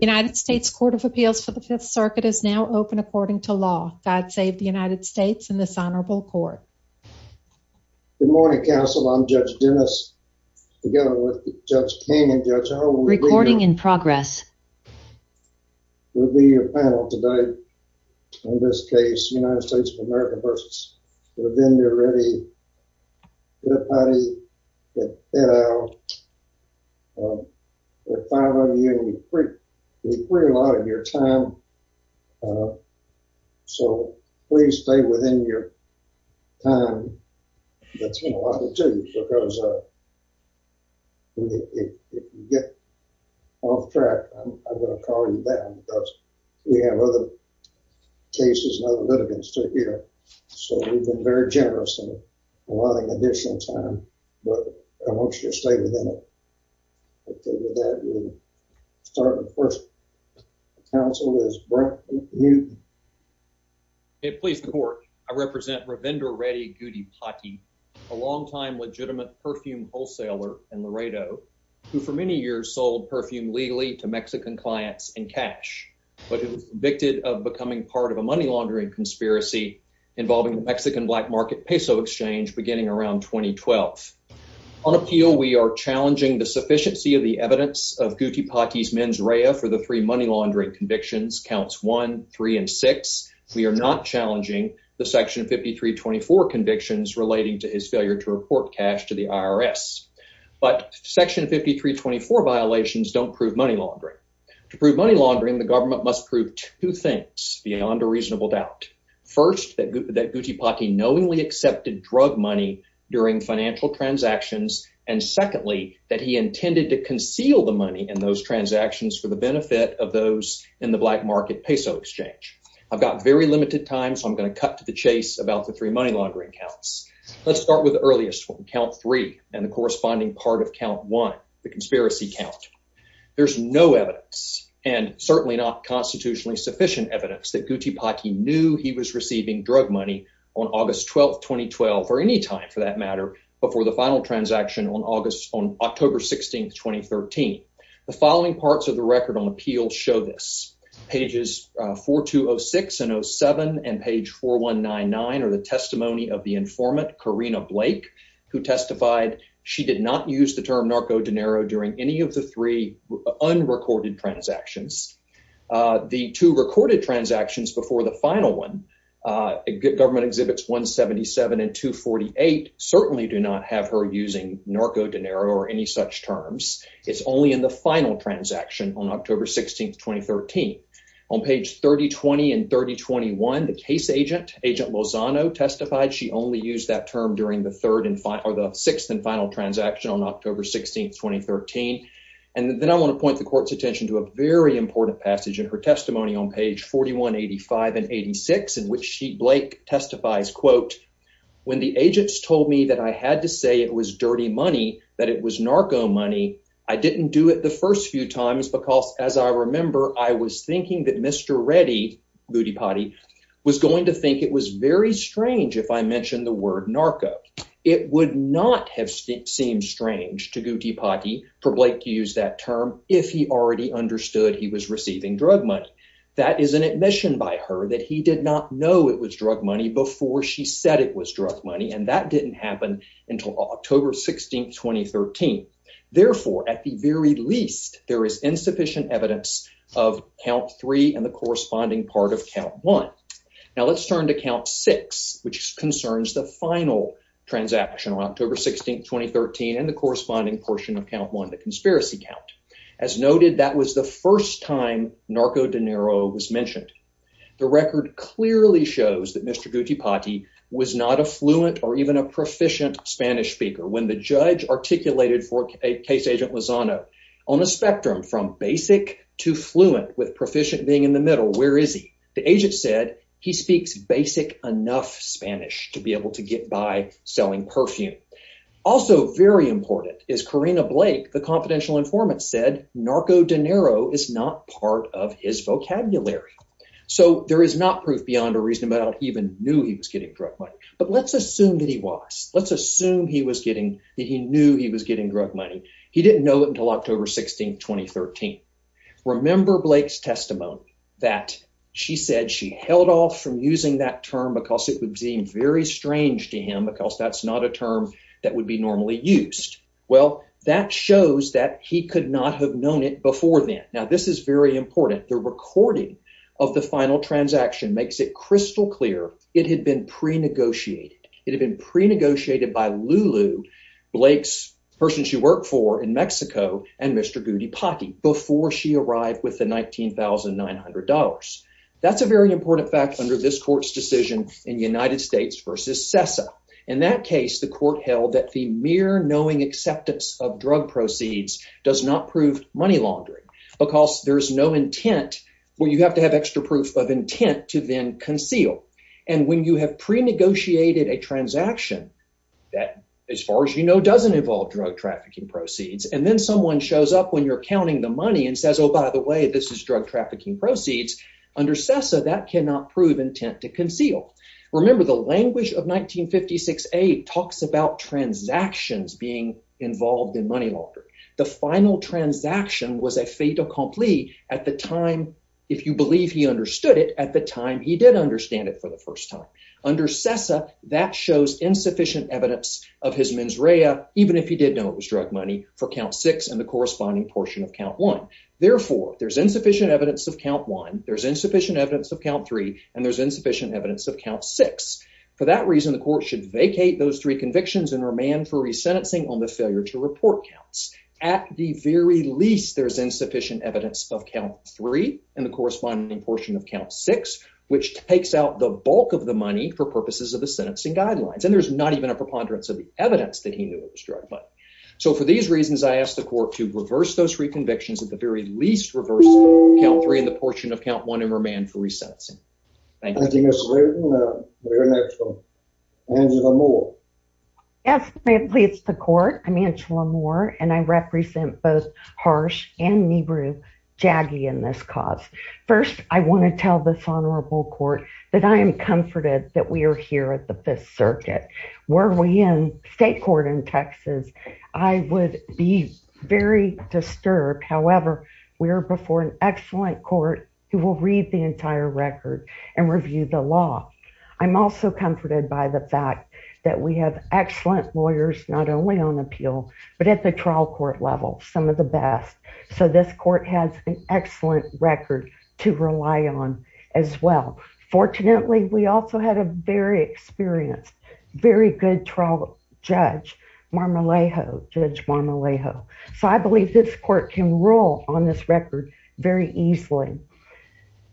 United States Court of Appeals for the Fifth Circuit is now open according to law. God save the United States and this honorable court. Good morning counsel, I'm Judge Dennis together with Judge King and Judge Howell. Recording in progress. We'll be your panel today in this case United States of America versus U.S. but then they're ready. Gudipati, Eddow, there are five of you and you free a lot of your time so please stay within your time. That's been a lot to do because if you get off track I'm gonna call you down because we have other cases and other litigants to hear. So we've been very generous in allowing additional time but I want you to stay within it. We'll start with the first. Counsel is Brett Newton. It please the court, I represent Ravindra Reddy Gudipati, a longtime legitimate perfume wholesaler in Laredo who for many years sold perfume legally to Mexican clients in cash but convicted of becoming part of a money laundering conspiracy involving Mexican black market peso exchange beginning around 2012. On appeal we are challenging the sufficiency of the evidence of Gudipati's mens rea for the three money laundering convictions counts one, three, and six. We are not challenging the section 5324 convictions relating to his failure to report cash to the IRS. But section 5324 violations don't prove money laundering. To prove money laundering the government must prove two things beyond a reasonable doubt. First that Gudipati knowingly accepted drug money during financial transactions and secondly that he intended to conceal the money in those transactions for the benefit of those in the black market peso exchange. I've got very limited time so I'm going to cut to the chase about the three money laundering counts. Let's start with the earliest count three and the corresponding part of count one, the conspiracy count. There's no evidence and certainly not constitutionally sufficient evidence that Gudipati knew he was receiving drug money on August 12, 2012 or any time for that matter before the final transaction on October 16, 2013. The following parts of the record on appeal show this. Pages 4206 and 07 and page 4199 are the testimony of the informant Karina Blake who testified she did not use the term narco dinero during any of the three unrecorded transactions. The two recorded transactions before the final one government exhibits 177 and 248 certainly do not have her using narco dinero or any such terms. It's only in the final transaction on October 16, 2013 on page 3020 and 3021. The case agent agent Lozano testified she only used that term during the third or the sixth and final transaction on October 16, 2013. And then I want to point the court's attention to a very important passage in her testimony on page 4185 and 86 in which she Blake testifies quote. When the agents told me that I had to say it was dirty money, that it was narco money, I didn't do it the first few times because, as I remember, I was thinking that Mr. Ready, Gudipati was going to think it was very strange if I mentioned the word narco. It would not have seemed strange to Gudipati for Blake to use that term if he already understood he was receiving drug money. That is an admission by her that he did not know it was drug money before she said it was drug money. And that didn't happen until October 16, 2013. Therefore, at the very least, there is insufficient evidence of count three and the corresponding part of count one. Now, let's turn to count six, which concerns the final transaction on October 16, 2013 and the corresponding portion of count one. The conspiracy count, as noted, that was the first time narco dinero was mentioned. The record clearly shows that Mr. Gudipati was not a fluent or even a proficient Spanish speaker when the judge articulated for a case agent was on a on a spectrum from basic to fluent with proficient being in the middle. Where is he? The agent said he speaks basic enough Spanish to be able to get by selling perfume. Also very important is Karina Blake. The confidential informant said narco dinero is not part of his vocabulary. So there is not proof beyond a reason about even knew he was getting drug money. But let's assume that he was. Let's assume he was getting that he knew he was getting drug money. He didn't know it until October 16, 2013. Remember Blake's testimony that she said she held off from using that term because it would seem very strange to him because that's not a term. That would be normally used. Well, that shows that he could not have known it before then. Now, this is very important. The recording of the final transaction makes it crystal clear. It had been pre negotiated. It had been pre negotiated by Lulu, Blake's person she worked for in Mexico and Mr. Gudipati before she arrived with the nineteen thousand nine hundred dollars. That's a very important fact under this court's decision in the United States versus SESA. In that case, the court held that the mere knowing acceptance of drug proceeds does not prove money laundering because there is no intent where you have to have extra proof of intent to then conceal. And when you have pre negotiated a transaction that, as far as you know, doesn't involve drug trafficking proceeds, and then someone shows up when you're counting the money and says, oh, by the way, this is drug trafficking proceeds under SESA that cannot prove intent to conceal. Remember, the language of nineteen fifty six eight talks about transactions being involved in money laundering. The final transaction was a fait accompli at the time. If you believe he understood it at the time, he did understand it for the first time under SESA that shows insufficient evidence of his mens rea, even if he did know it was drug money for count six and the corresponding portion of count one. Therefore, there's insufficient evidence of count one. There's insufficient evidence of count three and there's insufficient evidence of count six. For that reason, the court should vacate those three convictions and remand for resentencing on the failure to report counts. At the very least, there's insufficient evidence of count three and the corresponding portion of count six, which takes out the bulk of the money for purposes of the sentencing guidelines. And there's not even a preponderance of the evidence that he knew it was drug money. So for these reasons, I asked the court to reverse those three convictions at the very least, reverse count three and the portion of count one and remand for resentencing. Thank you. Thank you, Mr. Layden. We're going to go to Angela Moore. Yes, ma'am, please. The court. I'm Angela Moore and I represent both Harsh and Nibru Jaggi in this cause. First, I want to tell this honorable court that I am comforted that we are here at the Fifth Circuit. Were we in state court in Texas, I would be very disturbed. However, we are before an excellent court who will read the entire record and review the law. I'm also comforted by the fact that we have excellent lawyers, not only on appeal, but at the trial court level, some of the best. So this court has an excellent record to rely on as well. Fortunately, we also had a very experienced, very good trial judge, Judge Marmolejo. Judge Marmolejo. So I believe this court can rule on this record very easily.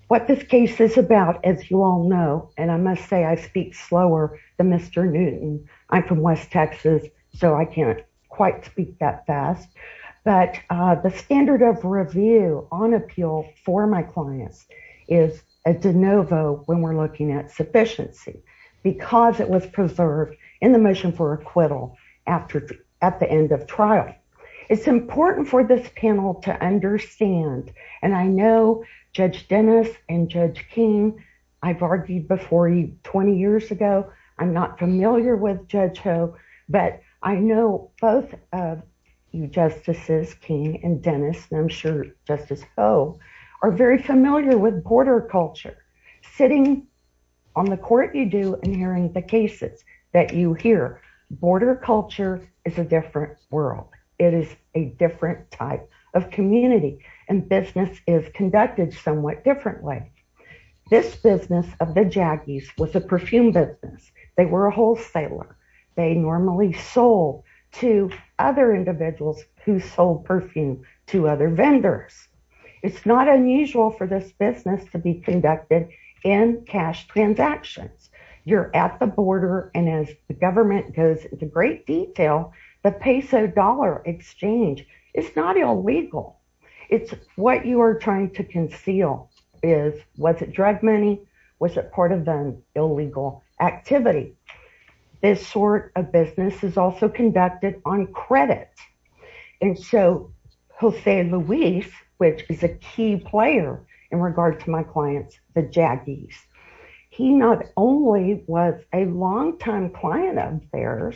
What this case is about, as you all know, and I must say I speak slower than Mr. Newton. I'm from West Texas, so I can't quite speak that fast. But the standard of review on appeal for my clients is a de novo when we're looking at It's important for this panel to understand, and I know Judge Dennis and Judge King, I've argued before 20 years ago. I'm not familiar with Judge Ho, but I know both of you, Justices King and Dennis, and I'm sure Justice Ho, are very familiar with border culture. Sitting on the court you do and hearing the cases that you hear, border culture is a different world. It is a different type of community and business is conducted somewhat differently. This business of the Jaggies was a perfume business. They were a wholesaler. They normally sold to other individuals who sold perfume to other vendors. It's not unusual for this business to be conducted in cash transactions. You're at the border, and as the government goes into great detail, the peso dollar exchange is not illegal. It's what you are trying to conceal is, was it drug money? Was it part of an illegal activity? This sort of business is also conducted on credit. And so Jose Luis, which is a key player in regard to my clients, the Jaggies, he not was a long time client of theirs.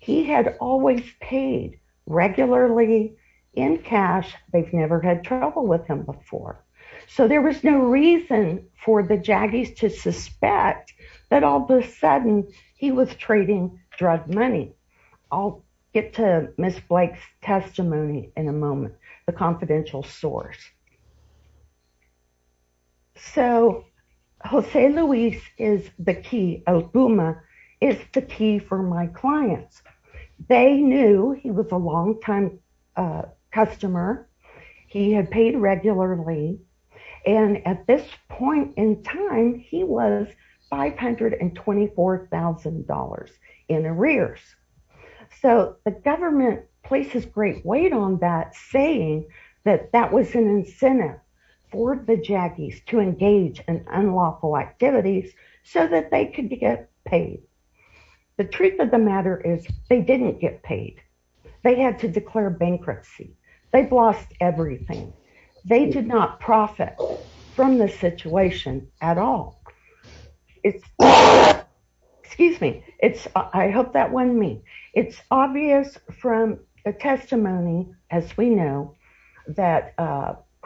He had always paid regularly in cash. They've never had trouble with him before. So there was no reason for the Jaggies to suspect that all of a sudden he was trading drug money. I'll get to Ms. Blake's testimony in a moment, the confidential source. So Jose Luis is the key. El Puma is the key for my clients. They knew he was a long time customer. He had paid regularly. And at this point in time, he was $524,000 in arrears. So the government places great weight on that, saying that that was an intentional incentive for the Jaggies to engage in unlawful activities so that they could get paid. The truth of the matter is they didn't get paid. They had to declare bankruptcy. They've lost everything. They did not profit from the situation at all. It's, excuse me. It's, I hope that wasn't me. It's obvious from the testimony, as we know, that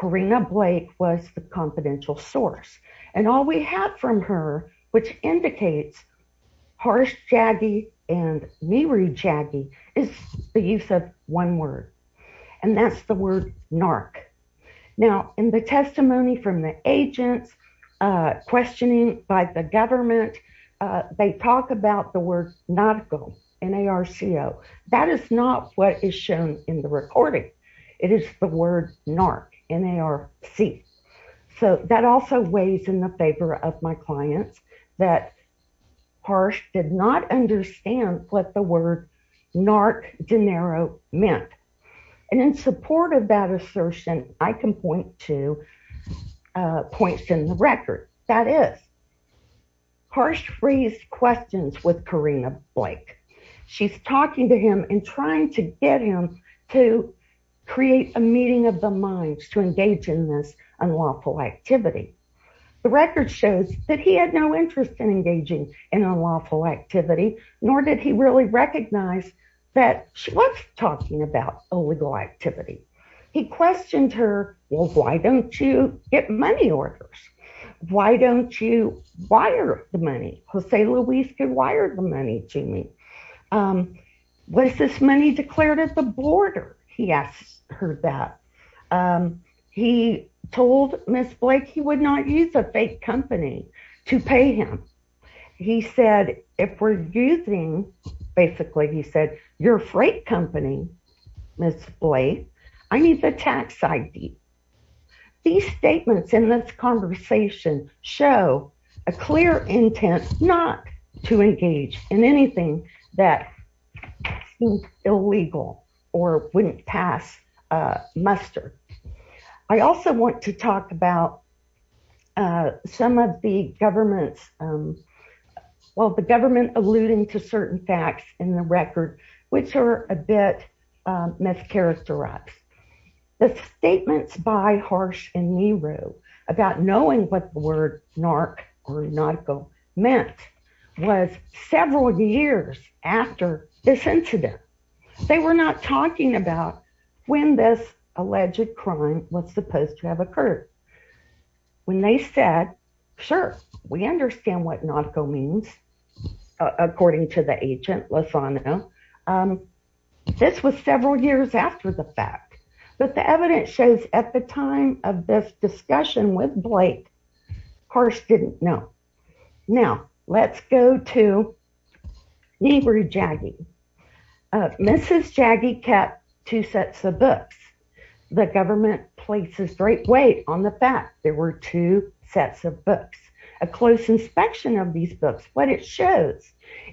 Karina Blake was the confidential source. And all we have from her, which indicates harsh Jaggie and mirrored Jaggie, is the use of one word. And that's the word narc. Now, in the testimony from the agents questioning by the government, they talk about the word narco, N-A-R-C-O. That is not what is shown in the recording. It is the word narc, N-A-R-C. So that also weighs in the favor of my clients that Harsh did not understand what the word narc dinero meant. And in support of that assertion, I can point to points in the record. That is, Harsh raised questions with Karina Blake. She's talking to him and trying to get him to create a meeting of the minds to engage in this unlawful activity. The record shows that he had no interest in engaging in unlawful activity, nor did he really recognize that she was talking about illegal activity. He questioned her, well, why don't you get money orders? Why don't you wire the money? Jose Luis could wire the money to me. Was this money declared at the border? He asked her that. He told Ms. Blake he would not use a fake company to pay him. He said, if we're using, basically, he said, your freight company, Ms. Blake, I need the tax ID. These statements in this conversation show a clear intent not to engage in anything that seemed illegal or wouldn't pass muster. I also want to talk about some of the government's, well, the government alluding to certain facts in the record, which are a bit mischaracterized. The statements by Harsh and Nero about knowing what the word narc or nautical meant was several years after this incident. They were not talking about when this alleged crime was supposed to have occurred. When they said, sure, we understand what nautical means, according to the agent, this was several years after the fact. But the evidence shows at the time of this discussion with Blake, Harsh didn't know. Now, let's go to Nehru Jaggi. Mrs. Jaggi kept two sets of books. The government places great weight on the fact there were two sets of books, a close inspection of these books. What it shows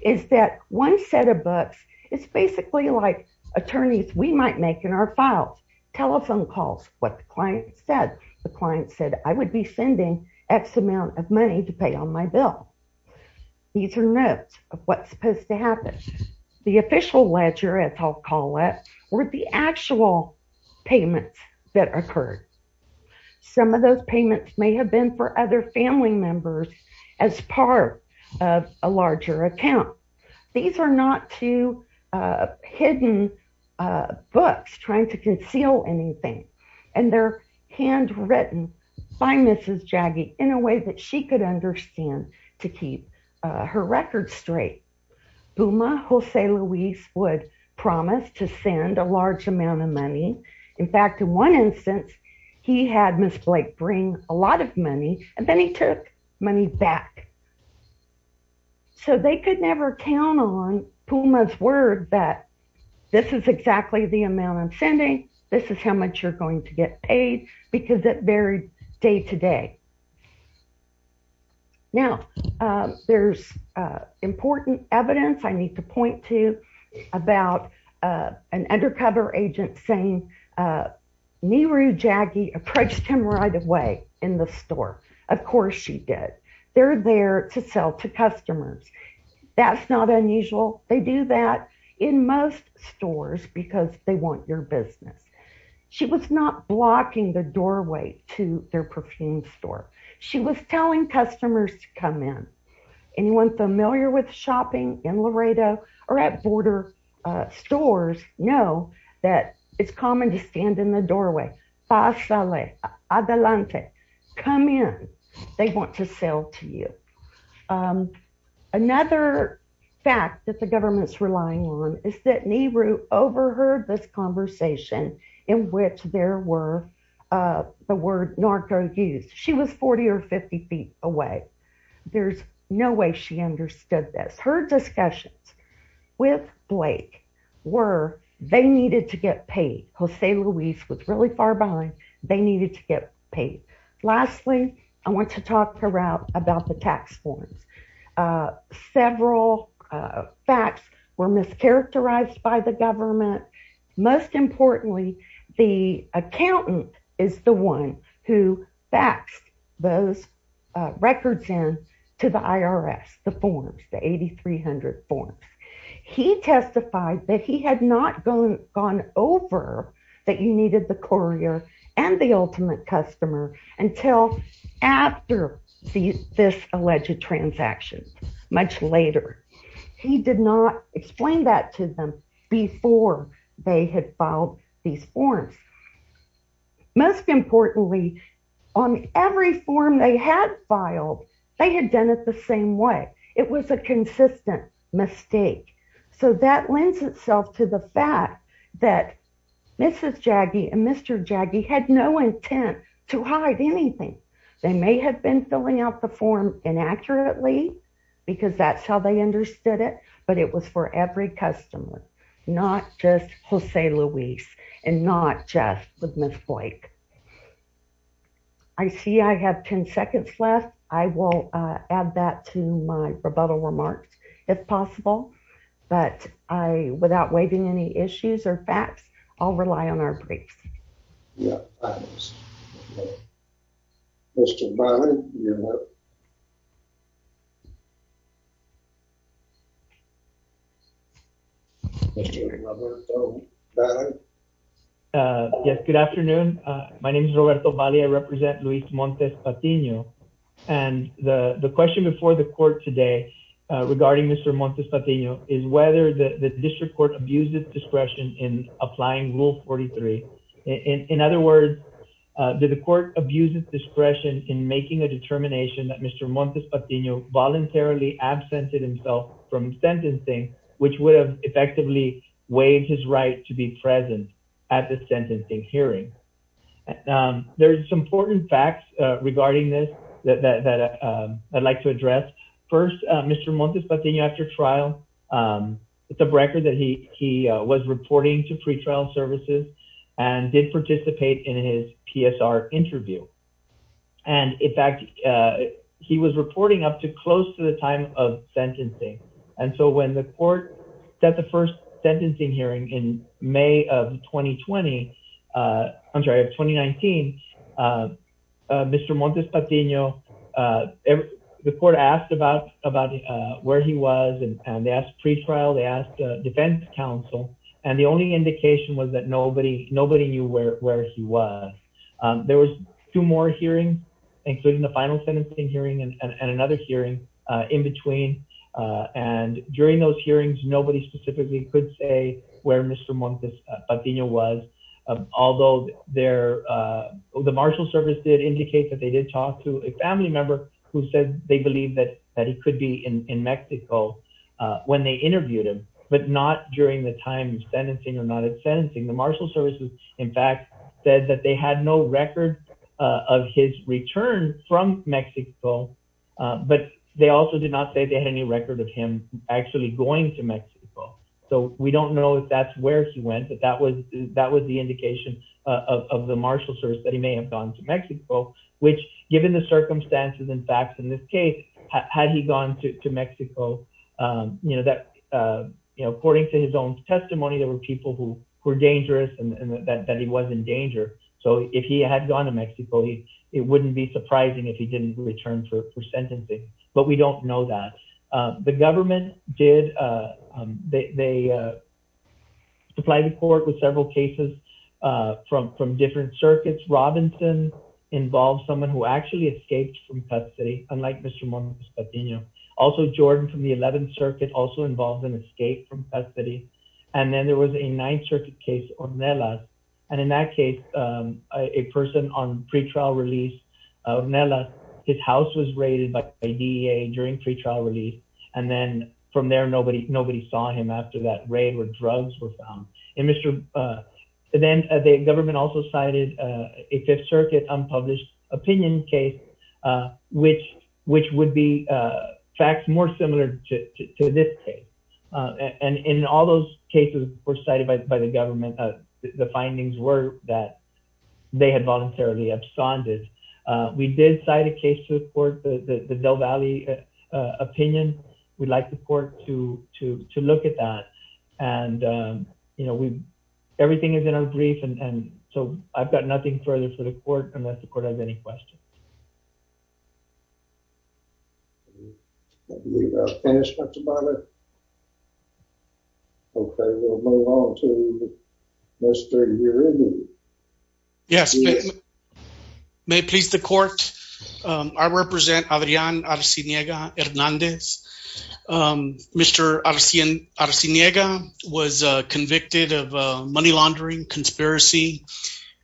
is that one set of books is basically like attorneys we might make in our files, telephone calls, what the client said. The client said, I would be sending X amount of money to pay on my bill. These are notes of what's supposed to happen. The official ledger, as I'll call it, were the actual payments that occurred. Some of those payments may have been for other family members as part of a larger account. These are not two hidden books trying to conceal anything. And they're handwritten by Mrs. Jaggi in a way that she could understand to keep her record straight. Buma Jose Luis would promise to send a large amount of money. In fact, in one instance, he had Ms. Blake bring a lot of money and then he took money back. So they could never count on Buma's word that this is exactly the amount I'm sending. This is how much you're going to get paid because it varied day to day. Now, there's important evidence I need to point to about an undercover agent saying Nehru Jaggi approached him right away in the store. Of course, she did. They're there to sell to customers. That's not unusual. They do that in most stores because they want your business. She was not blocking the doorway to their perfume store. She was telling customers to come in. Anyone familiar with shopping in Laredo or at border stores know that it's common to stand in the doorway, pasale, adelante, come in. They want to sell to you. Another fact that the government's relying on is that Nehru overheard this conversation in which there were the word narco used. She was 40 or 50 feet away. There's no way she understood this. Her discussions with Blake were they needed to get paid. Jose Luis was really far behind. They needed to get paid. Lastly, I want to talk about the tax forms. Several facts were mischaracterized by the government. Most importantly, the accountant is the one who faxed those records in to the IRS, the forms, the 8300 forms. He testified that he had not gone over that you needed the courier and the ultimate customer until after this alleged transaction, much later. He did not explain that to them before they had filed these forms. Most importantly, on every form they had filed, they had done it the same way. It was a consistent mistake. So, that lends itself to the fact that Mrs. Jaggi and Mr. Jaggi had no intent to hide anything. They may have been filling out the form inaccurately because that's how they understood it, but it was for every customer, not just Jose Luis and not just with Ms. Blake. I see I have 10 seconds left. I will add that to my rebuttal remarks if possible, but I, without waiving any issues or facts, I'll rely on our briefs. Yeah. Mr. Valle, you're up. Mr. Roberto Valle. Yes, good afternoon. My name is Roberto Valle. I represent Luis Montes Patiño. The question before the court today regarding Mr. Montes Patiño is whether the district court abused its discretion in applying Rule 43. In other words, did the court abuse its discretion in making a determination that Mr. Montes Patiño voluntarily absented himself from sentencing, which would have effectively waived his right to be present at the sentencing hearing? And there's some important facts regarding this that I'd like to address. First, Mr. Montes Patiño, after trial, it's a record that he was reporting to pretrial services and did participate in his PSR interview. And in fact, he was reporting up to close to the time of sentencing. And so when the court set the first sentencing hearing in May of 2020, I'm sorry, of 2019, Mr. Montes Patiño, the court asked about where he was and they asked pretrial, they asked defense counsel, and the only indication was that nobody knew where he was. There was two more hearings, including the final sentencing hearing and another hearing in between. And during those hearings, nobody specifically could say where Mr. Montes Patiño was, although the marshal service did indicate that they did talk to a family member who said they believed that he could be in Mexico when they interviewed him, but not during the time of sentencing or not at sentencing. The marshal service, in fact, said that they had no record of his return from Mexico, but they also did not say they had any record of him actually going to Mexico. So we don't know if that's where he went, but that was the indication of the marshal service that he may have gone to Mexico, which given the circumstances and facts in this case, had he gone to Mexico, according to his own testimony, there were people who were dangerous and that he was in danger. So if he had gone to Mexico, it wouldn't be surprising if he didn't return for sentencing. But we don't know that. The government did, they supplied the court with several cases from different circuits. Robinson involved someone who actually escaped from custody, unlike Mr. Montes Patiño. Also, Jordan from the 11th Circuit also involved an escape from custody. And then there was a 9th Circuit case, Ornella. And in that case, a person on pretrial release, Ornella, his house was raided by DEA during pretrial release. And then from there, nobody saw him after that raid where drugs were found. Then the government also cited a 5th Circuit unpublished opinion case, which would be facts more similar to this case. And in all those cases were cited by the government, the findings were that they had voluntarily absconded. We did cite a case to the court, the Del Valle opinion. We'd like the court to look at that. And, you know, everything is in our brief. And so I've got nothing further for the court unless the court has any questions. Okay, we'll move on to Mr. Uribe. Yes, may it please the court. I represent Adrian Arciniega Hernandez. Mr. Arciniega was convicted of money laundering, conspiracy,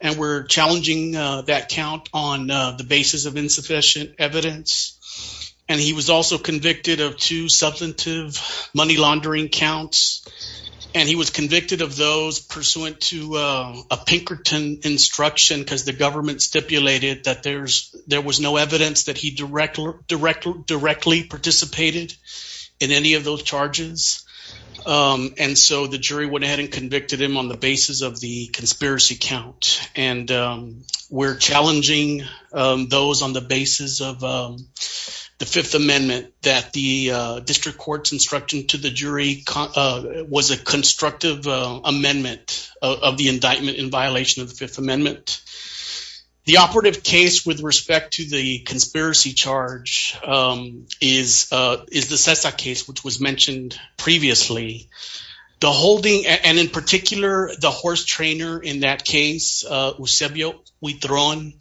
and we're challenging that count on the basis of insufficient evidence. And he was also convicted of two substantive money laundering counts. And he was convicted of those pursuant to a Pinkerton instruction because the government stipulated that there was no evidence that he directly participated in any of those charges. And so the jury went ahead and convicted him on the basis of the conspiracy count. And we're challenging those on the basis of the Fifth Amendment that the district court's instruction to the jury was a constructive amendment of the indictment in violation of the Fifth Amendment. The operative case with respect to the conspiracy charge is the Cesar case, which was mentioned previously. The holding, and in particular, the horse trainer in that case, Eusebio Huitron,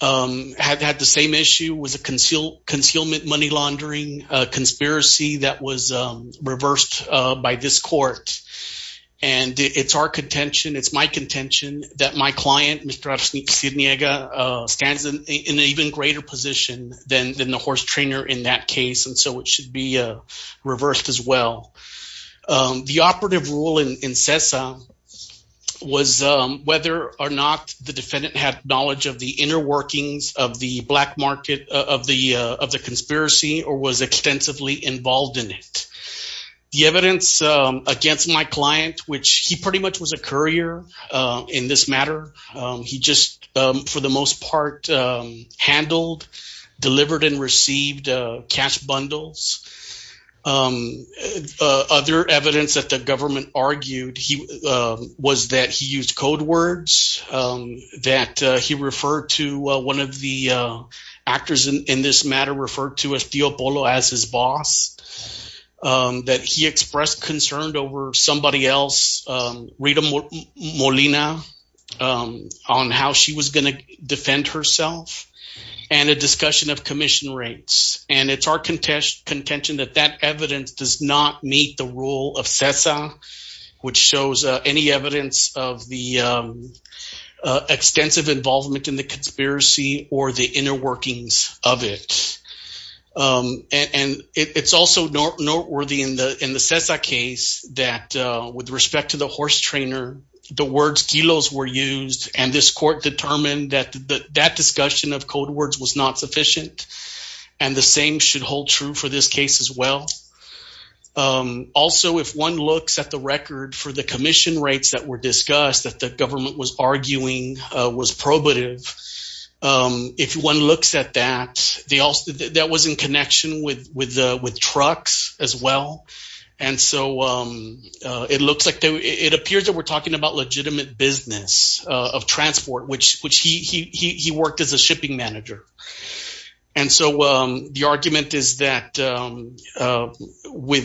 had the same issue, was a concealment money laundering conspiracy that was reversed by this court. And it's our contention, it's my contention that my client, Mr. Arciniega, stands in an even greater position than the horse trainer in that case. And so it should be reversed as well. The operative rule in Cesar was whether or not the defendant had knowledge of the inner workings of the black market of the conspiracy or was extensively involved in it. The evidence against my client, which he pretty much was a courier in this matter, he just, for the most part, handled, delivered, and received cash bundles. Other evidence that the government argued was that he used code words, that he referred to one of the actors in this matter referred to as Tio Polo as his boss, that he expressed concern over somebody else, Rita Molina, on how she was going to defend herself, and a discussion of commission rates. And it's our contention that that evidence does not meet the rule of Cesar, which shows any evidence of the extensive involvement in the conspiracy or the inner workings of it. And it's also noteworthy in the Cesar case that with respect to the horse trainer, the words kilos were used, and this court determined that that discussion of code words was not sufficient, and the same should hold true for this case as well. Also, if one looks at the record for the commission rates that were discussed that the government was arguing was probative, if one looks at that, that was in connection with trucks as well, and so it looks like it appears that we're talking about legitimate business of transport, which he worked as a shipping manager. And so the argument is that when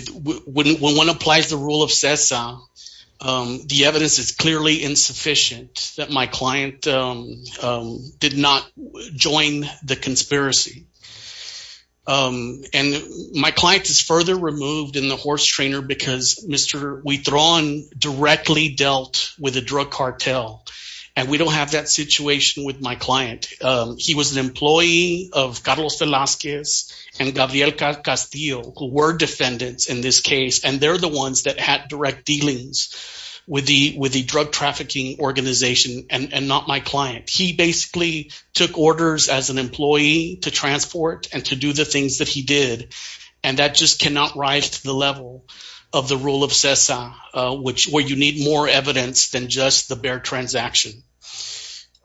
one applies the rule of Cesar, the evidence is clearly insufficient that my client did not join the conspiracy. And my client is further removed in the horse trainer because we throw on directly dealt with a drug cartel, and we don't have that situation with my client. He was an employee of Carlos Velazquez and Gabriel Castillo, who were defendants in this case, and they're the ones that had direct dealings with the drug trafficking organization and not my client. He basically took orders as an employee to transport and to do the things that he did, and that just cannot rise to the level of the rule of Cesar, where you need more evidence than just the bare transaction.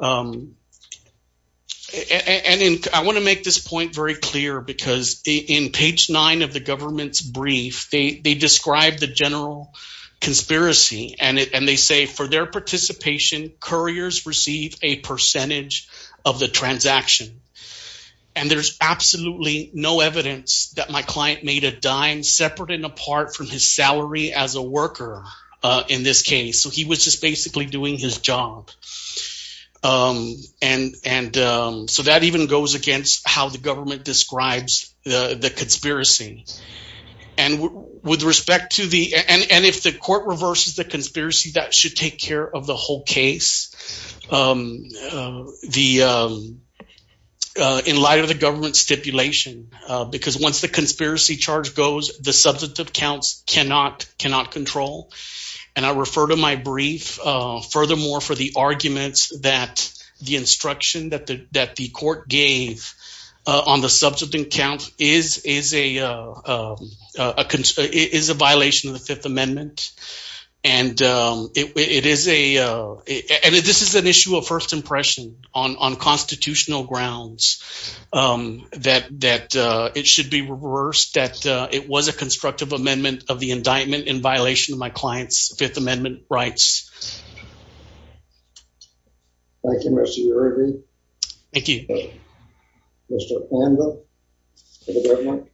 And I want to make this point very clear because in page nine of the government's brief, they describe the general conspiracy, and they say for their participation, couriers receive a percentage of the transaction. And there's absolutely no evidence that my client made a dime separate and apart from his salary as a worker in this case, so he was just basically doing his job. And so that even goes against how the government describes the conspiracy, and with respect to the, and if the court reverses the conspiracy, that should take care of the whole case. In light of the government stipulation, because once the conspiracy charge goes, the substantive counts cannot control. And I refer to my brief furthermore for the arguments that the instruction that the court gave on the substantive count is a violation of the Fifth Amendment. And it is a, and this is an issue of first impression on constitutional grounds that it should be reversed, that it was a constructive amendment of the indictment in violation of my client's Fifth Amendment rights. Thank you, Mr. Uribe. Thank you. Mr. Panda for the government.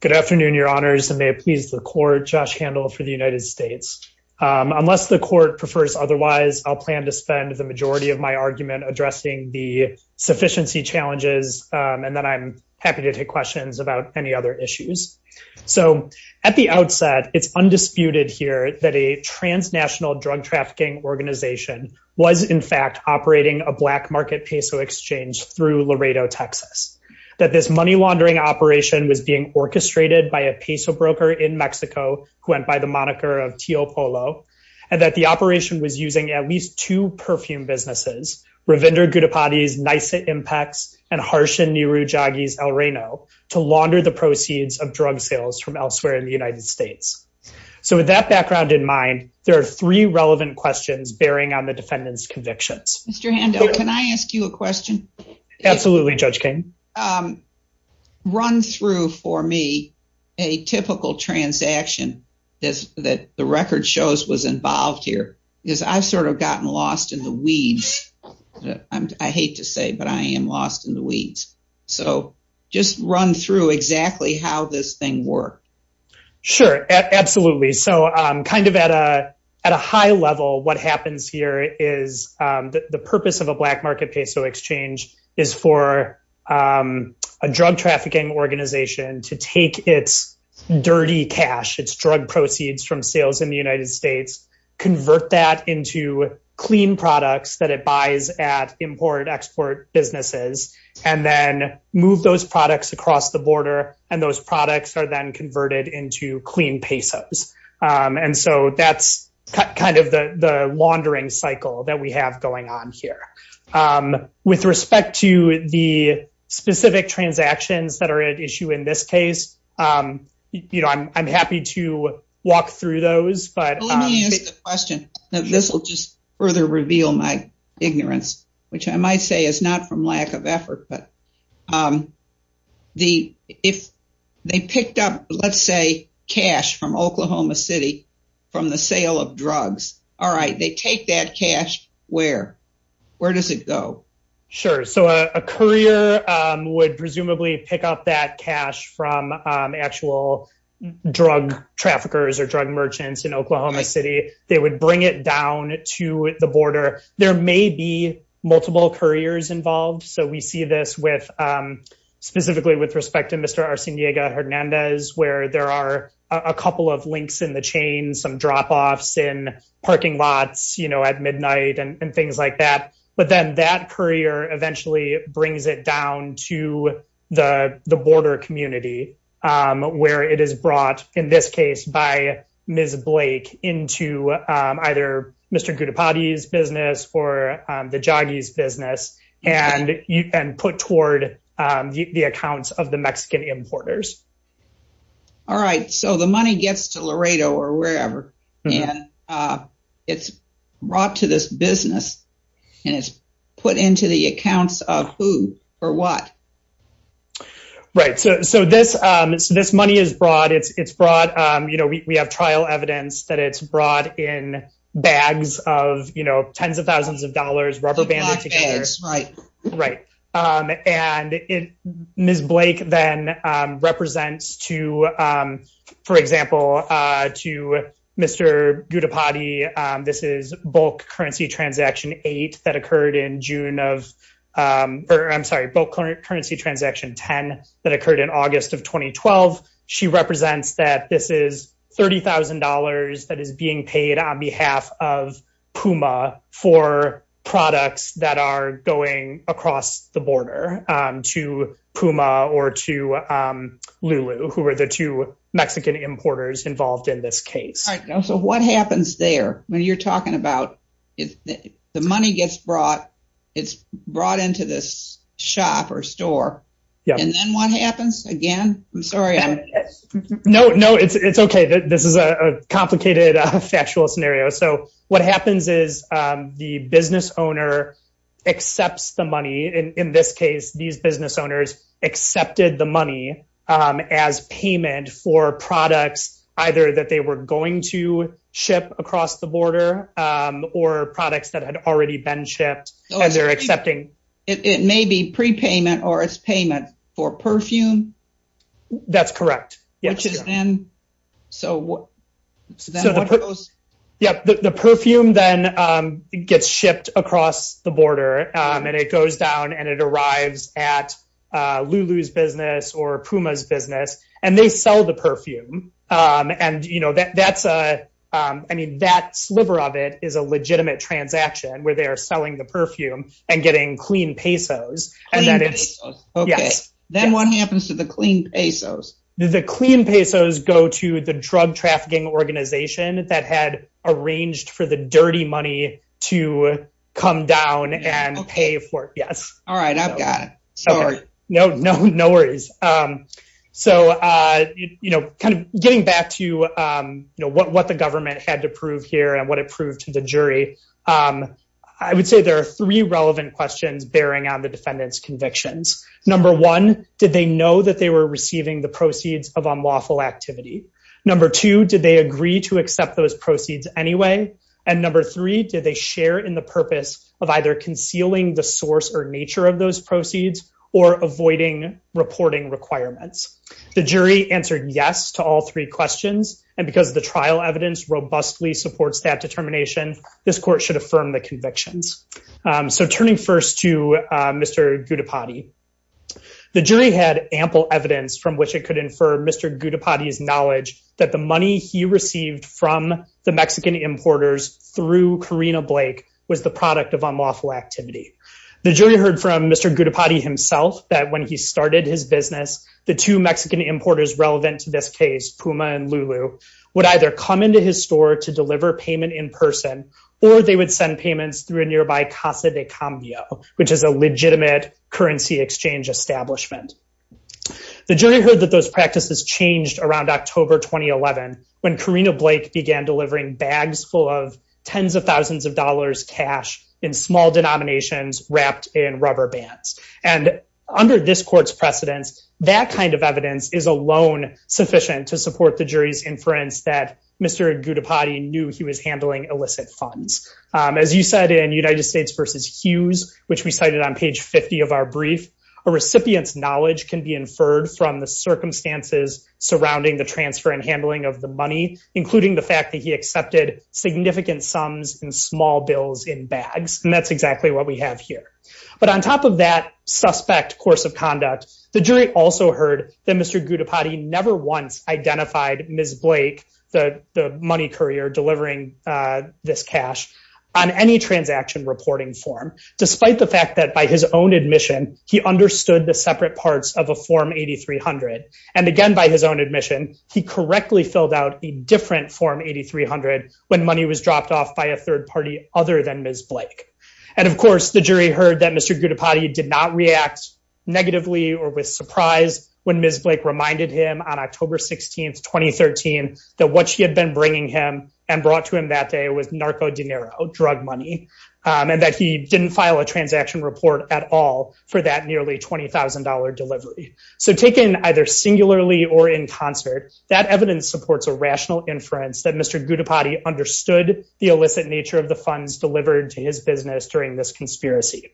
Good afternoon, your honors, and may it please the court, Josh Handel for the United States. Unless the court prefers otherwise, I'll plan to spend the majority of my argument addressing the sufficiency challenges, and then I'm happy to take questions about any other issues. So, at the outset, it's undisputed here that a transnational drug trafficking organization was in fact operating a black market peso exchange through Laredo, Texas. That this money laundering operation was being orchestrated by a peso broker in Mexico, who went by the moniker of Tio Polo, and that the operation was using at least two perfume businesses, Ravinder Gudipati's Nysa Impacts and Harshan Niru Jaggi's El Reno, to launder the proceeds of drug sales from elsewhere in the United States. So, with that background in mind, there are three relevant questions bearing on the defendant's convictions. Mr. Handel, can I ask you a question? Absolutely, Judge King. Run through for me a typical transaction that the record shows was involved here, because I've sort of gotten lost in the weeds. I hate to say, but I am lost in the weeds. So, just run through exactly how this thing worked. Sure, absolutely. So, kind of at a high level, what happens here is the purpose of a black market peso exchange is for a drug trafficking organization to take its dirty cash, its drug proceeds from sales in the United States, convert that into clean products that it buys at import, export businesses, and then move those products across the border. And those products are then converted into clean pesos. And so, that's kind of the laundering cycle that we have going on here. With respect to the specific transactions that are at issue in this case, I'm happy to walk through those. But let me ask a question. This will just further reveal my ignorance, which I might say is not from lack of effort. But if they picked up, let's say, cash from Oklahoma City from the sale of drugs, all right, they take that cash. Where? Where does it go? Sure. So, a courier would presumably pick up that cash from actual drug traffickers or drug merchants in Oklahoma City. They would bring it down to the border. There may be multiple couriers involved. So, we see this specifically with respect to Mr. Arciniega Hernandez, where there are a couple of links in the chain, some drop-offs in parking lots at midnight and things like that. But then that courier eventually brings it down to the border community, where it is brought, in this case by Ms. Blake, into either Mr. Gudipati's business or the Joggy's business and put toward the accounts of the Mexican importers. All right. So, the money gets to Laredo or wherever and it's brought to this business and it's put into the accounts of who or what? Right. So, this money is brought. You know, we have trial evidence that it's brought in bags of, you know, tens of thousands of dollars, rubber banded together. Big bags, right. Right. And Ms. Blake then represents to, for example, to Mr. Gudipati. This is bulk currency transaction eight that occurred in June of, or I'm sorry, bulk currency transaction 10 that occurred in August of 2012. She represents that this is $30,000 that is being paid on behalf of Puma for products that are going across the border to Puma or to Lulu, who are the two Mexican importers involved in this case. All right. So, what happens there when you're talking about, the money gets brought, it's brought into this shop or store. And then what happens again? I'm sorry. No, no, it's okay. This is a complicated factual scenario. So, what happens is the business owner accepts the money. And in this case, these business owners accepted the money as payment for products, either that they were going to ship across the border or products that had already been shipped as they're accepting. It may be prepayment or as payment for perfume. That's correct. Yes. Yep. The perfume then gets shipped across the border and it goes down and it arrives at Lulu's business or Puma's business and they sell the perfume. And, you know, that's a, I mean, that sliver of it is a legitimate transaction where they are selling the perfume and getting clean pesos. Okay. Then what happens to the clean pesos? The clean pesos go to the drug trafficking organization that had arranged for the dirty money to come down and pay for it. Yes. All right. I've got it. Sorry. No, no, no worries. So, you know, kind of getting back to, you know, what the government had to prove here and what it proved to the jury. I would say there are three relevant questions bearing on the defendant's convictions. Number one, did they know that they were receiving the proceeds of unlawful activity? Number two, did they agree to accept those proceeds anyway? And number three, did they share in the purpose of either concealing the source or nature of those proceeds or avoiding reporting requirements? The jury answered yes to all three questions. And because the trial evidence robustly supports that determination, this court should affirm the convictions. So turning first to Mr. Gudipati, the jury had ample evidence from which it could infer Mr. Gudipati's knowledge that the money he received from the Mexican importers through Karina Blake was the product of unlawful activity. The jury heard from Mr. Gudipati himself that when he started his business, the two Mexican importers relevant to this case, Puma and Lulu, would either come into his store to deliver payment in person or they would send payments through a nearby Casa de Cambio, which is a legitimate currency exchange establishment. The jury heard that those practices changed around October 2011 when Karina Blake began delivering bags full of tens of thousands of dollars cash in small denominations wrapped in rubber bands. And under this court's precedence, that kind of evidence is alone sufficient to support the jury's inference that Mr. Gudipati knew he was handling illicit funds. As you said in United States versus Hughes, which we cited on page 50 of our brief, a recipient's knowledge can be inferred from the circumstances surrounding the transfer and handling of the money, including the fact that he accepted significant sums and small bills in bags. And that's exactly what we have here. But on top of that suspect course of conduct, the jury also heard that Mr. Gudipati never once identified Ms. Blake, the money courier delivering this cash, on any transaction reporting form, despite the fact that by his own admission, he understood the separate parts of a Form 8300. And again, by his own admission, he correctly filled out a different Form 8300 when money was dropped off by a third party other than Ms. Blake. And of course, the jury heard that Mr. Gudipati did not react negatively or with surprise when Ms. Blake reminded him on October 16, 2013, that what she had been bringing him and brought to him that day was narco dinero, drug money, and that he didn't file a transaction report at all for that nearly $20,000 delivery. So taken either singularly or in concert, that evidence supports a rational inference that Mr. Gudipati understood the illicit nature of the funds delivered to his business during this conspiracy.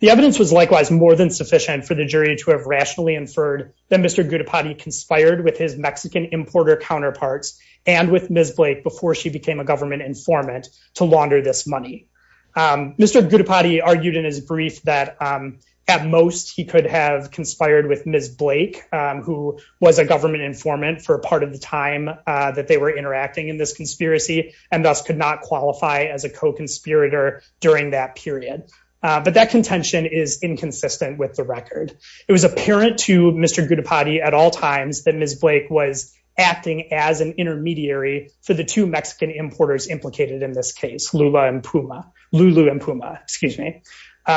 The evidence was likewise more than sufficient for the jury to have rationally inferred that Mr. Gudipati conspired with his Mexican importer counterparts and with Ms. Blake before she became a government informant to launder this money. Mr. Gudipati argued in his brief that at most he could have conspired with Ms. Blake, who was a government informant for a part of the time that they were interacting in this conspiracy and thus could not qualify as a co-conspirator during that period. But that contention is inconsistent with the record. It was apparent to Mr. Gudipati at all times that Ms. Blake was acting as an intermediary for the two Mexican importers implicated in this case, Lula and Puma, Lulu and Puma, excuse me.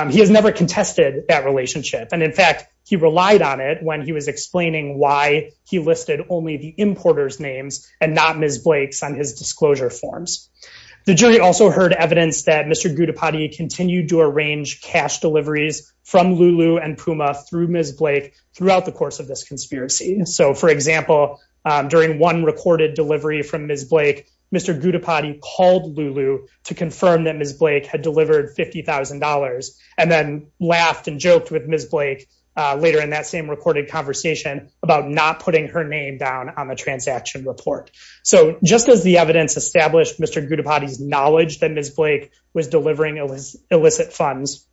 He has never contested that relationship. And in fact, he relied on it when he was explaining why he listed only the importer's names and not Ms. Blake's on his disclosure forms. The jury also heard evidence that Mr. Gudipati continued to arrange cash deliveries from Lulu and Puma through Ms. Blake throughout the course of this conspiracy. So for example, during one recorded delivery from Ms. Blake, Mr. Gudipati called Lulu to confirm that Ms. Blake had delivered $50,000 and then laughed and joked with Ms. Blake later in that same recorded conversation about not putting her name down on the transaction report. So just as the evidence established Mr. Gudipati's knowledge that Ms. Blake was delivering illicit funds,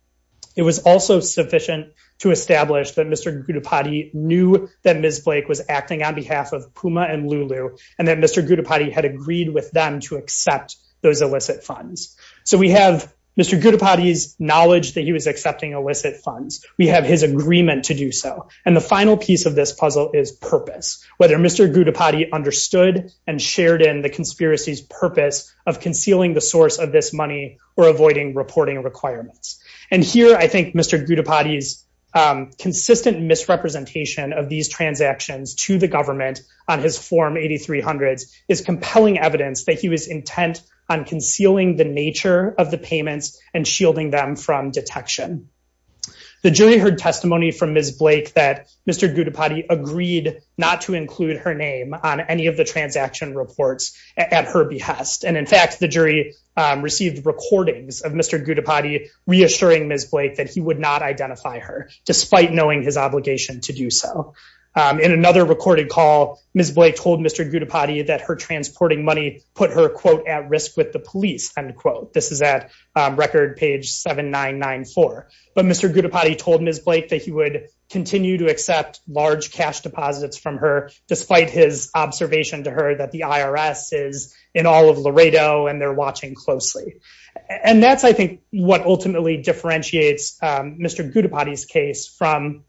it was also sufficient to establish that Mr. Gudipati knew that Ms. Blake was acting on behalf of Puma and Lulu, and that Mr. Gudipati had agreed with them to accept those illicit funds. So we have Mr. Gudipati's knowledge that he was accepting illicit funds. We have his agreement to do so. And the final piece of this puzzle is purpose. Whether Mr. Gudipati understood and shared in the conspiracy's purpose of concealing the source of this money or avoiding reporting requirements. And here I think Mr. Gudipati's consistent misrepresentation of these transactions to the government on his form 8300 is compelling evidence that he was intent on concealing the nature of the payments and shielding them from detection. The jury heard testimony from Ms. Blake that Mr. Gudipati agreed not to include her name on any of the transaction reports at her behest. And in fact, the jury received recordings of Mr. Gudipati reassuring Ms. Blake that he would not identify her despite knowing his obligation to do so. In another recorded call, Ms. Blake told Mr. Gudipati that her transporting money put her quote at risk with the police end quote. This is at record page 7994. But Mr. Gudipati told Ms. Blake that he would continue to accept large cash deposits from her despite his observation to her that the IRS is in all of Laredo and they're watching closely. And that's, I think, what ultimately differentiates Mr. Gudipati's case from,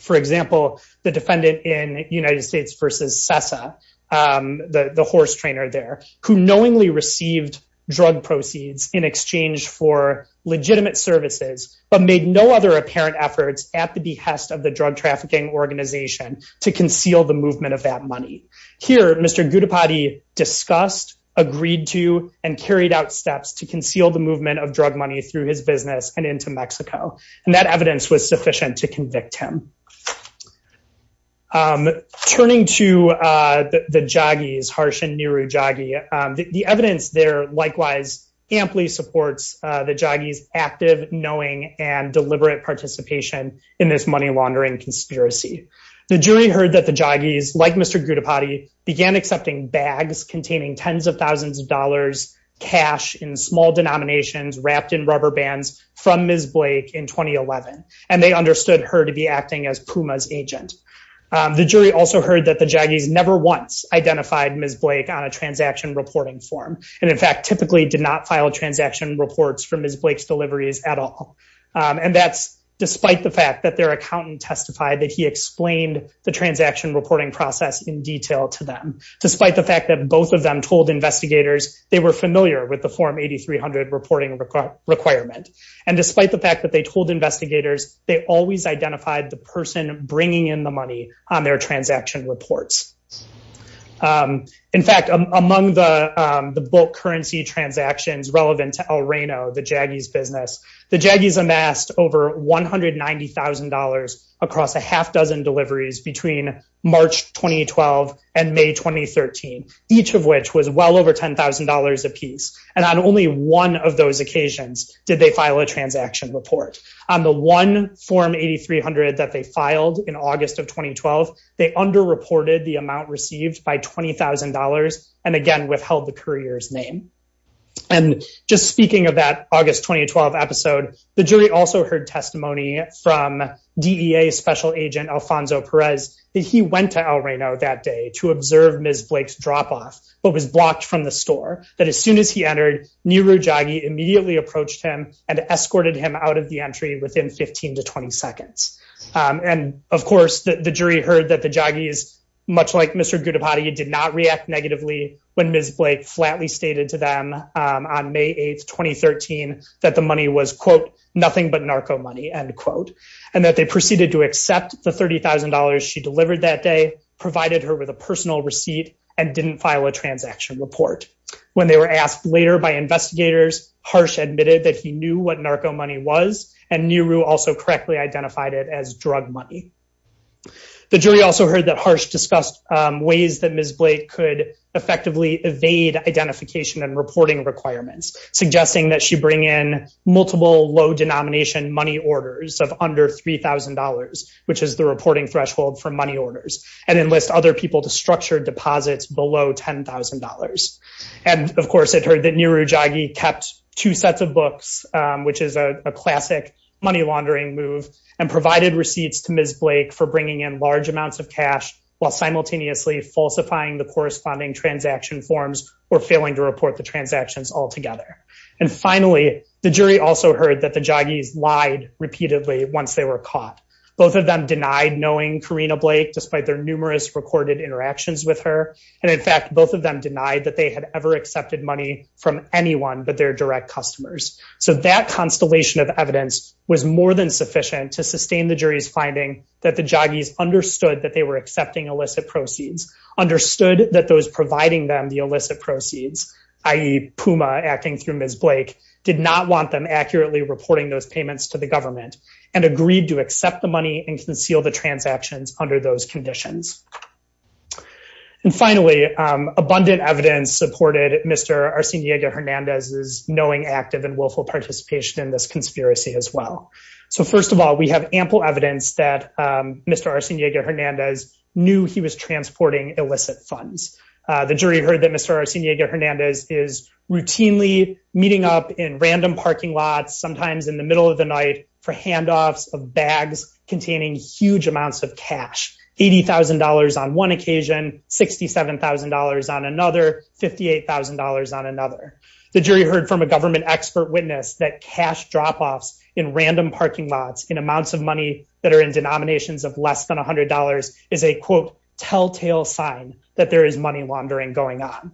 for example, the defendant in United States versus CESA, the horse trainer there, who knowingly received drug proceeds in exchange for legitimate services, but made no other apparent efforts at the behest of the drug trafficking organization to conceal the movement of that money. Here, Mr. Gudipati discussed, agreed to, and carried out steps to conceal the movement of drug money through his business and into Mexico. And that evidence was sufficient to convict him. Turning to the Joggies, Harsh and Nehru Joggy, the evidence there likewise amply supports the Joggies active, knowing, and deliberate participation in this money laundering conspiracy. The jury heard that the Joggies, like Mr. Gudipati, began accepting bags containing tens of thousands of dollars cash in small denominations wrapped in rubber bands from Ms. Blake in 2011. And they understood her to be acting as PUMA's agent. The jury also heard that the Joggies never once identified Ms. Blake on a transaction reporting form. And in fact, typically did not file transaction reports for Ms. Blake's deliveries at all. And that's despite the fact that their accountant testified that he explained the transaction reporting process in detail to them. Despite the fact that both of them told investigators they were familiar with the Form 8300 reporting requirement. And despite the fact that they told investigators, they always identified the person bringing in the money on their transaction reports. In fact, among the bulk currency transactions relevant to El Reno, the Joggies business, the Joggies amassed over $190,000 across a half dozen deliveries between March 2012 and May 2013, each of which was well over $10,000 apiece. And on only one of those occasions did they file a transaction report. On the one Form 8300 that they filed in August of 2012, they underreported the amount received by $20,000 and again, withheld the courier's name. And just speaking of that August 2012 episode, the jury also heard testimony from DEA Special Agent Alfonso Perez that he went to El Reno that day to observe Ms. Blake's drop-off, but was blocked from the store. That as soon as he entered, Nehru Joggy immediately approached him and escorted him out of the entry within 15 to 20 seconds. And of course, the jury heard that the Joggies, much like Mr. Gudipati, did not react negatively when Ms. Blake flatly stated to them on May 8th, 2013, that the money was, quote, nothing but narco money, end quote. And that they proceeded to accept the $30,000 she delivered that day, provided her with personal receipt, and didn't file a transaction report. When they were asked later by investigators, Harsh admitted that he knew what narco money was, and Nehru also correctly identified it as drug money. The jury also heard that Harsh discussed ways that Ms. Blake could effectively evade identification and reporting requirements, suggesting that she bring in multiple low-denomination money orders of under $3,000, which is the reporting threshold for money orders, and enlist other people to structure deposits below $10,000. And of course, it heard that Nehru Joggy kept two sets of books, which is a classic money laundering move, and provided receipts to Ms. Blake for bringing in large amounts of cash while simultaneously falsifying the corresponding transaction forms or failing to report the transactions altogether. And finally, the jury also heard that the Joggies lied repeatedly once they were caught. Both of them denied knowing Karina Blake, despite their numerous recorded interactions with her. And in fact, both of them denied that they had ever accepted money from anyone but their direct customers. So that constellation of evidence was more than sufficient to sustain the jury's finding that the Joggies understood that they were accepting illicit proceeds, understood that those providing them the illicit proceeds, i.e., Puma acting through Ms. Blake, did not want them accurately reporting those payments to the government, and agreed to accept them money and conceal the transactions under those conditions. And finally, abundant evidence supported Mr. Arseniega-Hernandez's knowing, active, and willful participation in this conspiracy as well. So first of all, we have ample evidence that Mr. Arseniega-Hernandez knew he was transporting illicit funds. The jury heard that Mr. Arseniega-Hernandez is routinely meeting up in random parking lots, sometimes in the middle of the night, for handoffs of bags containing huge amounts of cash. $80,000 on one occasion, $67,000 on another, $58,000 on another. The jury heard from a government expert witness that cash drop-offs in random parking lots in amounts of money that are in denominations of less than $100 is a, quote, telltale sign that there is money laundering going on.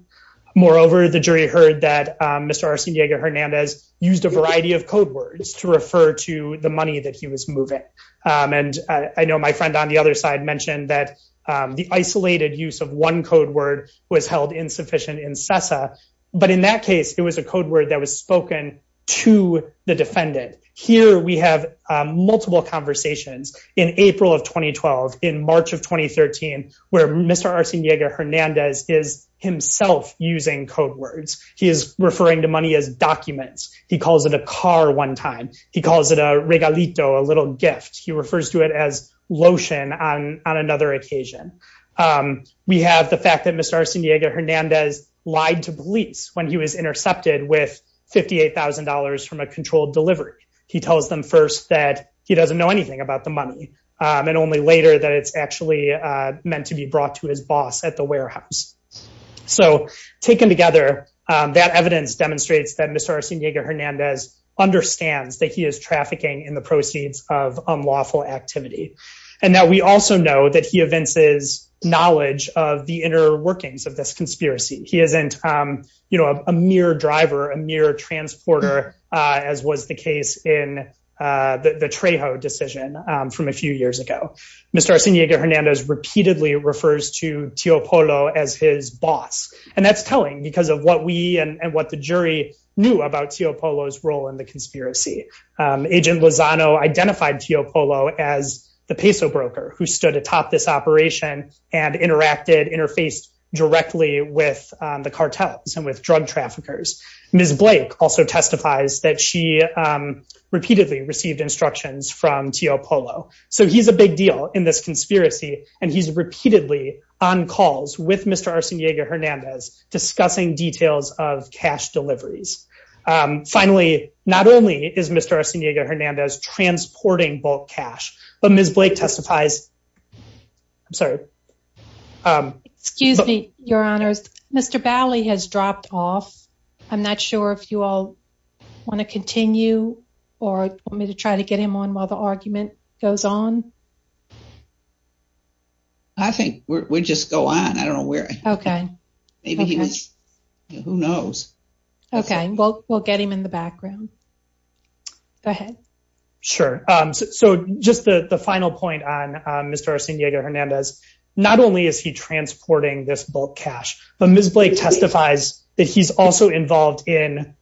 Moreover, the jury heard that Mr. Arseniega-Hernandez used a variety of code words to refer to the money that he was moving. And I know my friend on the other side mentioned that the isolated use of one code word was held insufficient in CESA. But in that case, it was a code word that was spoken to the defendant. Here we have multiple conversations in April of 2012, in March of 2013, where Mr. Arseniega-Hernandez is himself using code words. He is referring to money as documents. He calls it a car one time. He calls it a regalito, a little gift. He refers to it as lotion on another occasion. We have the fact that Mr. Arseniega-Hernandez lied to police when he was intercepted with $58,000 from a controlled delivery. He tells them first that he doesn't know anything about the money, and only later that it's actually meant to be brought to his boss at the warehouse. So taken together, that evidence demonstrates that Mr. Arseniega-Hernandez understands that he is trafficking in the proceeds of unlawful activity. And that we also know that he evinces knowledge of the inner workings of this conspiracy. He isn't a mere driver, a mere transporter, as was the case in the Trejo decision from a few years ago. Mr. Arseniega-Hernandez repeatedly refers to Teopolo as his boss. And that's telling because of what we and what the jury knew about Teopolo's role in the conspiracy. Agent Lozano identified Teopolo as the peso broker who stood atop this operation and interacted, interfaced directly with the cartels and with drug traffickers. Ms. Blake also testifies that she repeatedly received instructions from Teopolo. So he's a big deal in this conspiracy, and he's repeatedly on calls with Mr. Arseniega-Hernandez discussing details of cash deliveries. Finally, not only is Mr. Arseniega-Hernandez transporting bulk cash, but Ms. Blake testifies... I'm sorry. Excuse me, your honors. Mr. Bali has dropped off. I'm not sure if you all want to continue or want me to try to get him on while the argument goes on? I think we just go on. I don't know where... Okay. Maybe he was... Who knows? Okay, we'll get him in the background. Go ahead. Sure. So just the final point on Mr. Arseniega-Hernandez, not only is he transporting this bulk cash, but Ms. Blake testifies that he's also involved in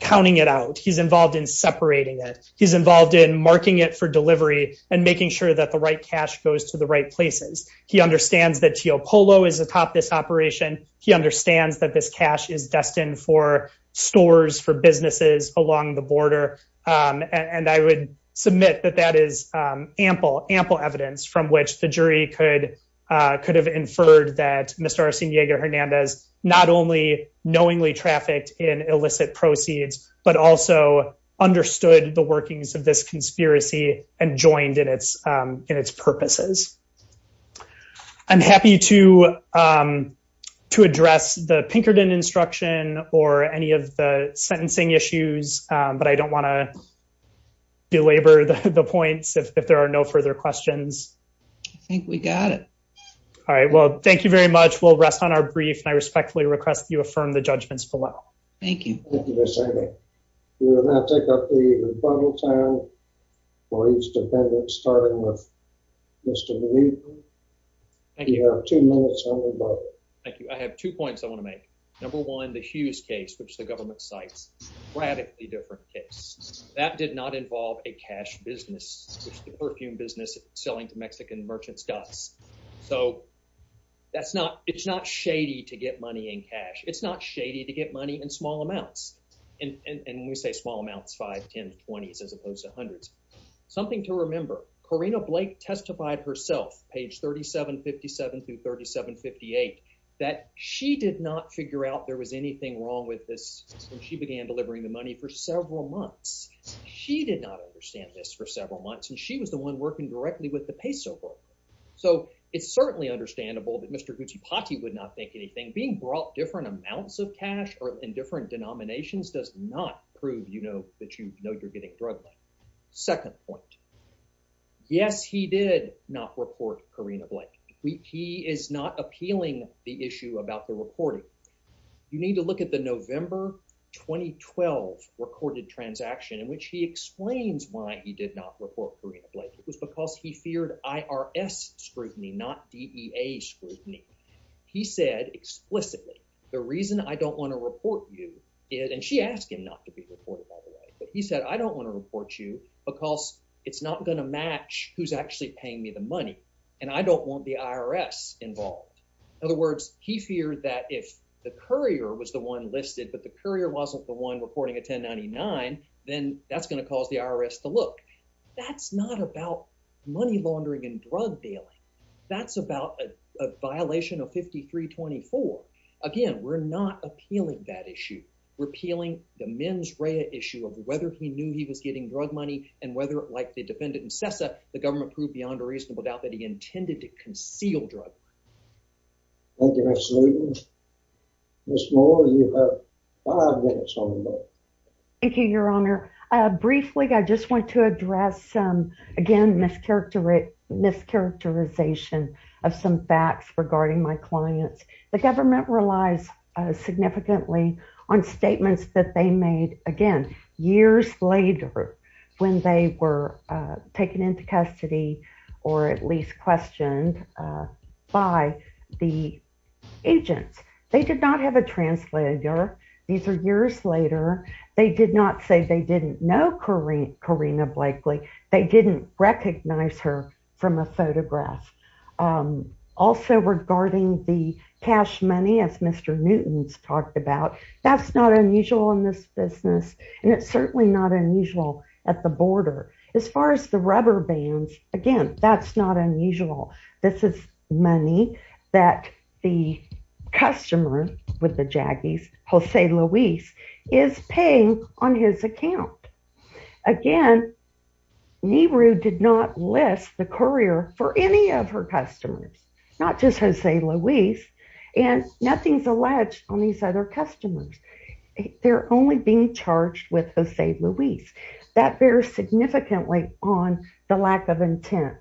counting it out. He's involved in separating it. He's involved in marking it for delivery and making sure that the right cash goes to the right places. He understands that Teopolo is atop this operation. He understands that this cash is destined for stores, for businesses along the border. And I would submit that that is ample, ample evidence from which the jury could have inferred that Mr. Arseniega-Hernandez not only knowingly trafficked in illicit proceeds, but also understood the workings of this conspiracy and joined in its purposes. I'm happy to address the Pinkerton instruction or any of the sentencing issues, but I don't want to belabor the points if there are no further questions. I think we got it. All right. Well, thank you very much. We'll rest on our brief and I respectfully request that you affirm the judgments below. Thank you. Thank you, Ms. Amick. We will now take up the rebuttal time for each defendant, starting with Mr. Nunez. Thank you. You have two minutes on rebuttal. Thank you. I have two points I want to make. Number one, the Hughes case, which the government cites, radically different case. That did not involve a cash business, which the perfume business selling to Mexican merchants does. So it's not shady to get money in cash. It's not shady to get money in small amounts. And when we say small amounts, 5, 10, 20s, as opposed to hundreds. Something to remember, Corina Blake testified herself, page 3757 through 3758, that she did not figure out there was anything wrong with this when she began delivering the money for several months. She did not understand this for several months, and she was the one working directly with the peso book. So it's certainly understandable that Mr. Guccipatti would not think anything. Being brought different amounts of cash in different denominations does not prove that you know you're getting drug money. Second point, yes, he did not report Corina Blake. He is not appealing the issue about the reporting. You need to look at the November 2012 recorded transaction in which he explains why he did not report Corina Blake. It was because he feared IRS scrutiny, not DEA scrutiny. He said explicitly, the reason I don't want to report you, and she asked him not to be reported, by the way. But he said, I don't want to report you because it's not going to match who's actually paying me the money, and I don't want the IRS involved. In other words, he feared that if the courier was the one listed, but the courier wasn't the one reporting a 1099, then that's going to cause the IRS to look. That's not about money laundering and drug dealing. That's about a violation of 5324. Again, we're not appealing that issue. We're appealing the mens rea issue of whether he knew he was getting drug money and whether, like the defendant in CESA, the government proved beyond a reasonable doubt that he intended to conceal drug. Thank you, Mr. Lieberman. Ms. Moore, you have five minutes on the bill. Thank you, Your Honor. Briefly, I just want to address some, again, mischaracterization of some facts regarding my clients. The government relies significantly on statements that they made, again, years later when they were taken into custody or at least questioned by the agents. They did not have a translator. These are years later. They did not say they didn't know Corrina Blakely. They didn't recognize her from a photograph. Also, regarding the cash money, as Mr. Newton's talked about, that's not unusual in this business and it's certainly not unusual at the border. As far as the rubber bands, again, that's not unusual. This is money that the customer with the Jaggies, Jose Luis, is paying on his account. Again, Nehru did not list the courier for any of her customers, not just Jose Luis, and nothing's alleged on these other customers. They're only being charged with Jose Luis. That bears significantly on the lack of intent.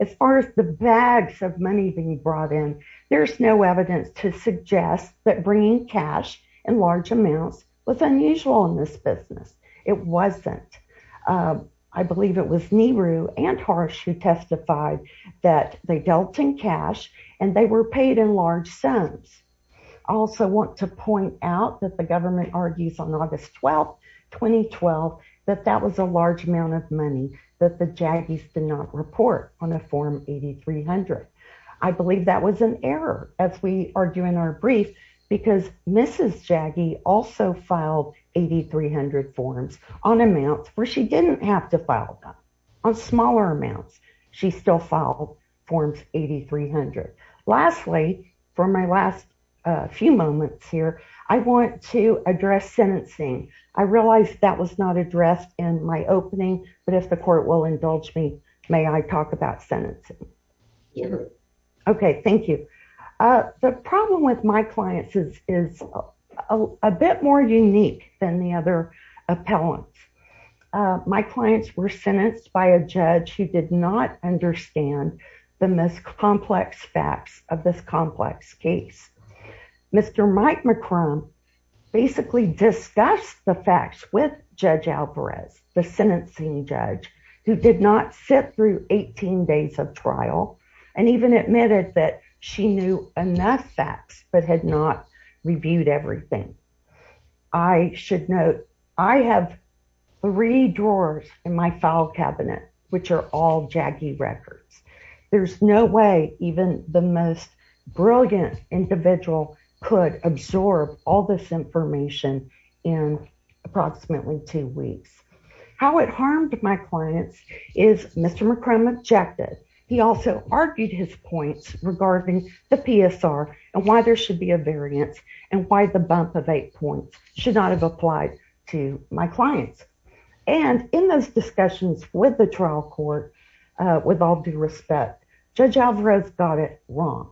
As far as the bags of money being brought in, there's no evidence to suggest that bringing cash in large amounts was unusual in this business. It wasn't. I believe it was Nehru and Harsh who testified that they dealt in cash and they were paid in large sums. I also want to point out that the government argues on August 12, 2012, that that was a Jaggies did not report on a Form 8300. I believe that was an error, as we argue in our brief, because Mrs. Jaggie also filed 8300 forms on amounts where she didn't have to file them. On smaller amounts, she still filed Forms 8300. Lastly, for my last few moments here, I want to address sentencing. I realized that was not addressed in my opening, but if the court will indulge me, may I talk about sentencing? Okay, thank you. The problem with my clients is a bit more unique than the other appellants. My clients were sentenced by a judge who did not understand the most complex facts of this complex case. Mr. Mike McCrum basically discussed the facts with Judge Alvarez, the sentencing judge, who did not sit through 18 days of trial and even admitted that she knew enough facts, but had not reviewed everything. I should note, I have three drawers in my file cabinet, which are all Jaggie records. There's no way even the most brilliant individual could absorb all this information in approximately two weeks. How it harmed my clients is Mr. McCrum objected. He also argued his points regarding the PSR and why there should be a variance and why the bump of eight points should not have applied to my clients. And in those discussions with the trial court, with all due respect, Judge Alvarez got it wrong.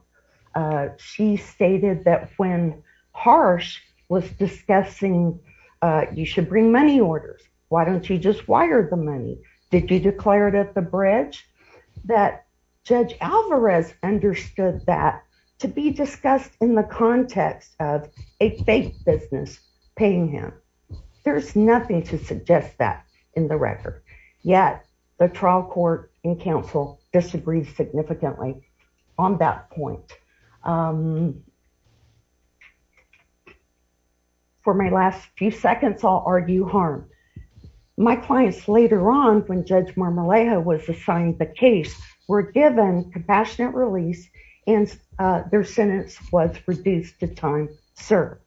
She stated that when Harsh was discussing, you should bring money orders. Why don't you just wire the money? Did you declare it at the bridge? That Judge Alvarez understood that to be discussed in the context of a fake business paying him. There's nothing to suggest that in the record. Yet, the trial court and counsel disagreed significantly on that point. For my last few seconds, I'll argue harm. My clients later on when Judge Marmolejo was assigned the case were given compassionate release and their sentence was reduced to time served.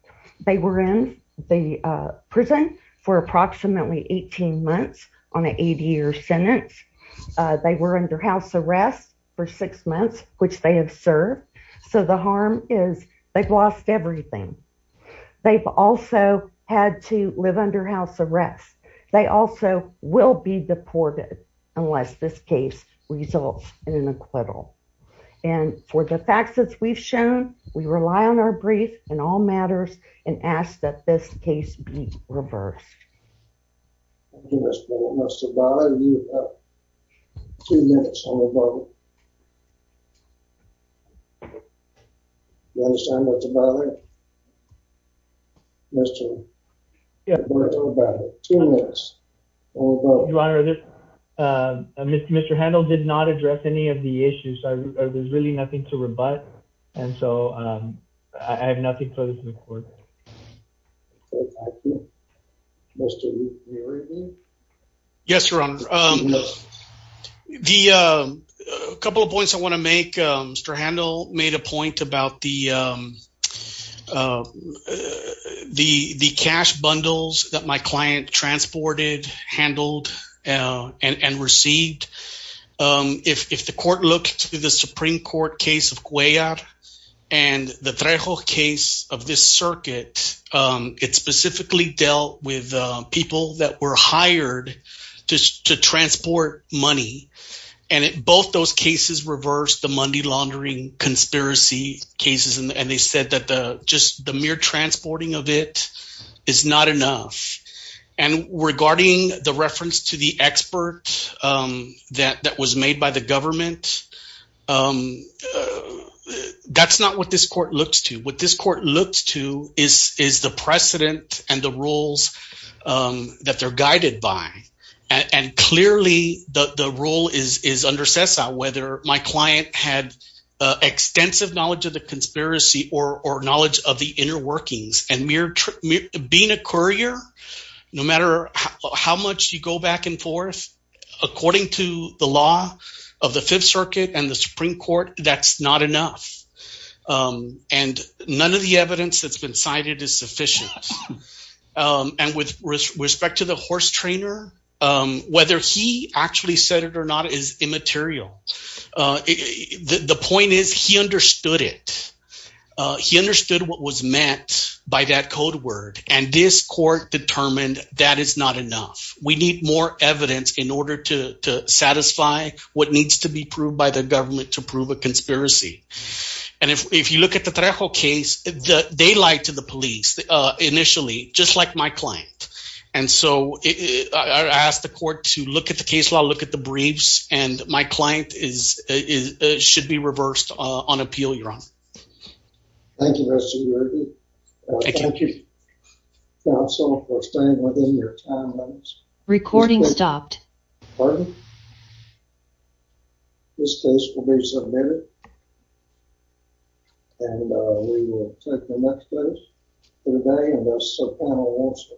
They were in the prison for approximately 18 months on an eight year sentence. They were under house arrest for six months, which they have served. So the harm is they've lost everything. They've also had to live under house arrest. They also will be deported unless this case results in an acquittal. And for the facts that we've shown, we rely on our brief and all matters and ask that this case be reversed. Thank you, Ms. Boone. Mr. Handel, you have two minutes on the vote. You understand what's about it? Mr. Handel, you have two minutes on the vote. Your Honor, Mr. Handel did not address any of the issues. There's really nothing to rebut. And so I have nothing further to report. Yes, Your Honor. The couple of points I want to make, Mr. Handel made a point about the cash bundles that my client transported, handled, and received. If the court looked to the Supreme Court case of Cuellar and the Trejo case of this circuit, it specifically dealt with people that were hired to transport money. And both those cases reversed the money laundering conspiracy cases. And they said that just the mere transporting of it is not enough. And regarding the reference to the expert that was made by the government, that's not what this court looks to. What this court looks to is the precedent and the rules that they're guided by. And clearly, the rule is under CESA, whether my client had extensive knowledge of the conspiracy or knowledge of the inner workings. And being a courier, no matter how much you go back and forth, according to the law of the Fifth Circuit and the Supreme Court, that's not enough. And none of the evidence that's been cited is sufficient. And with respect to the horse trainer, whether he actually said it or not is immaterial. The point is he understood it. He understood what was meant by that code word. And this court determined that is not enough. We need more evidence in order to satisfy what needs to be proved by the government to prove a conspiracy. And if you look at the Trejo case, they lied to the police initially, just like my client. And so I asked the court to look at the case law, look at the briefs. And my client should be reversed on appeal. Thank you, Mr. Yergey. Thank you, counsel, for staying within your time limits. Recording stopped. Pardon? This case will be submitted. And we will take the next case for the day.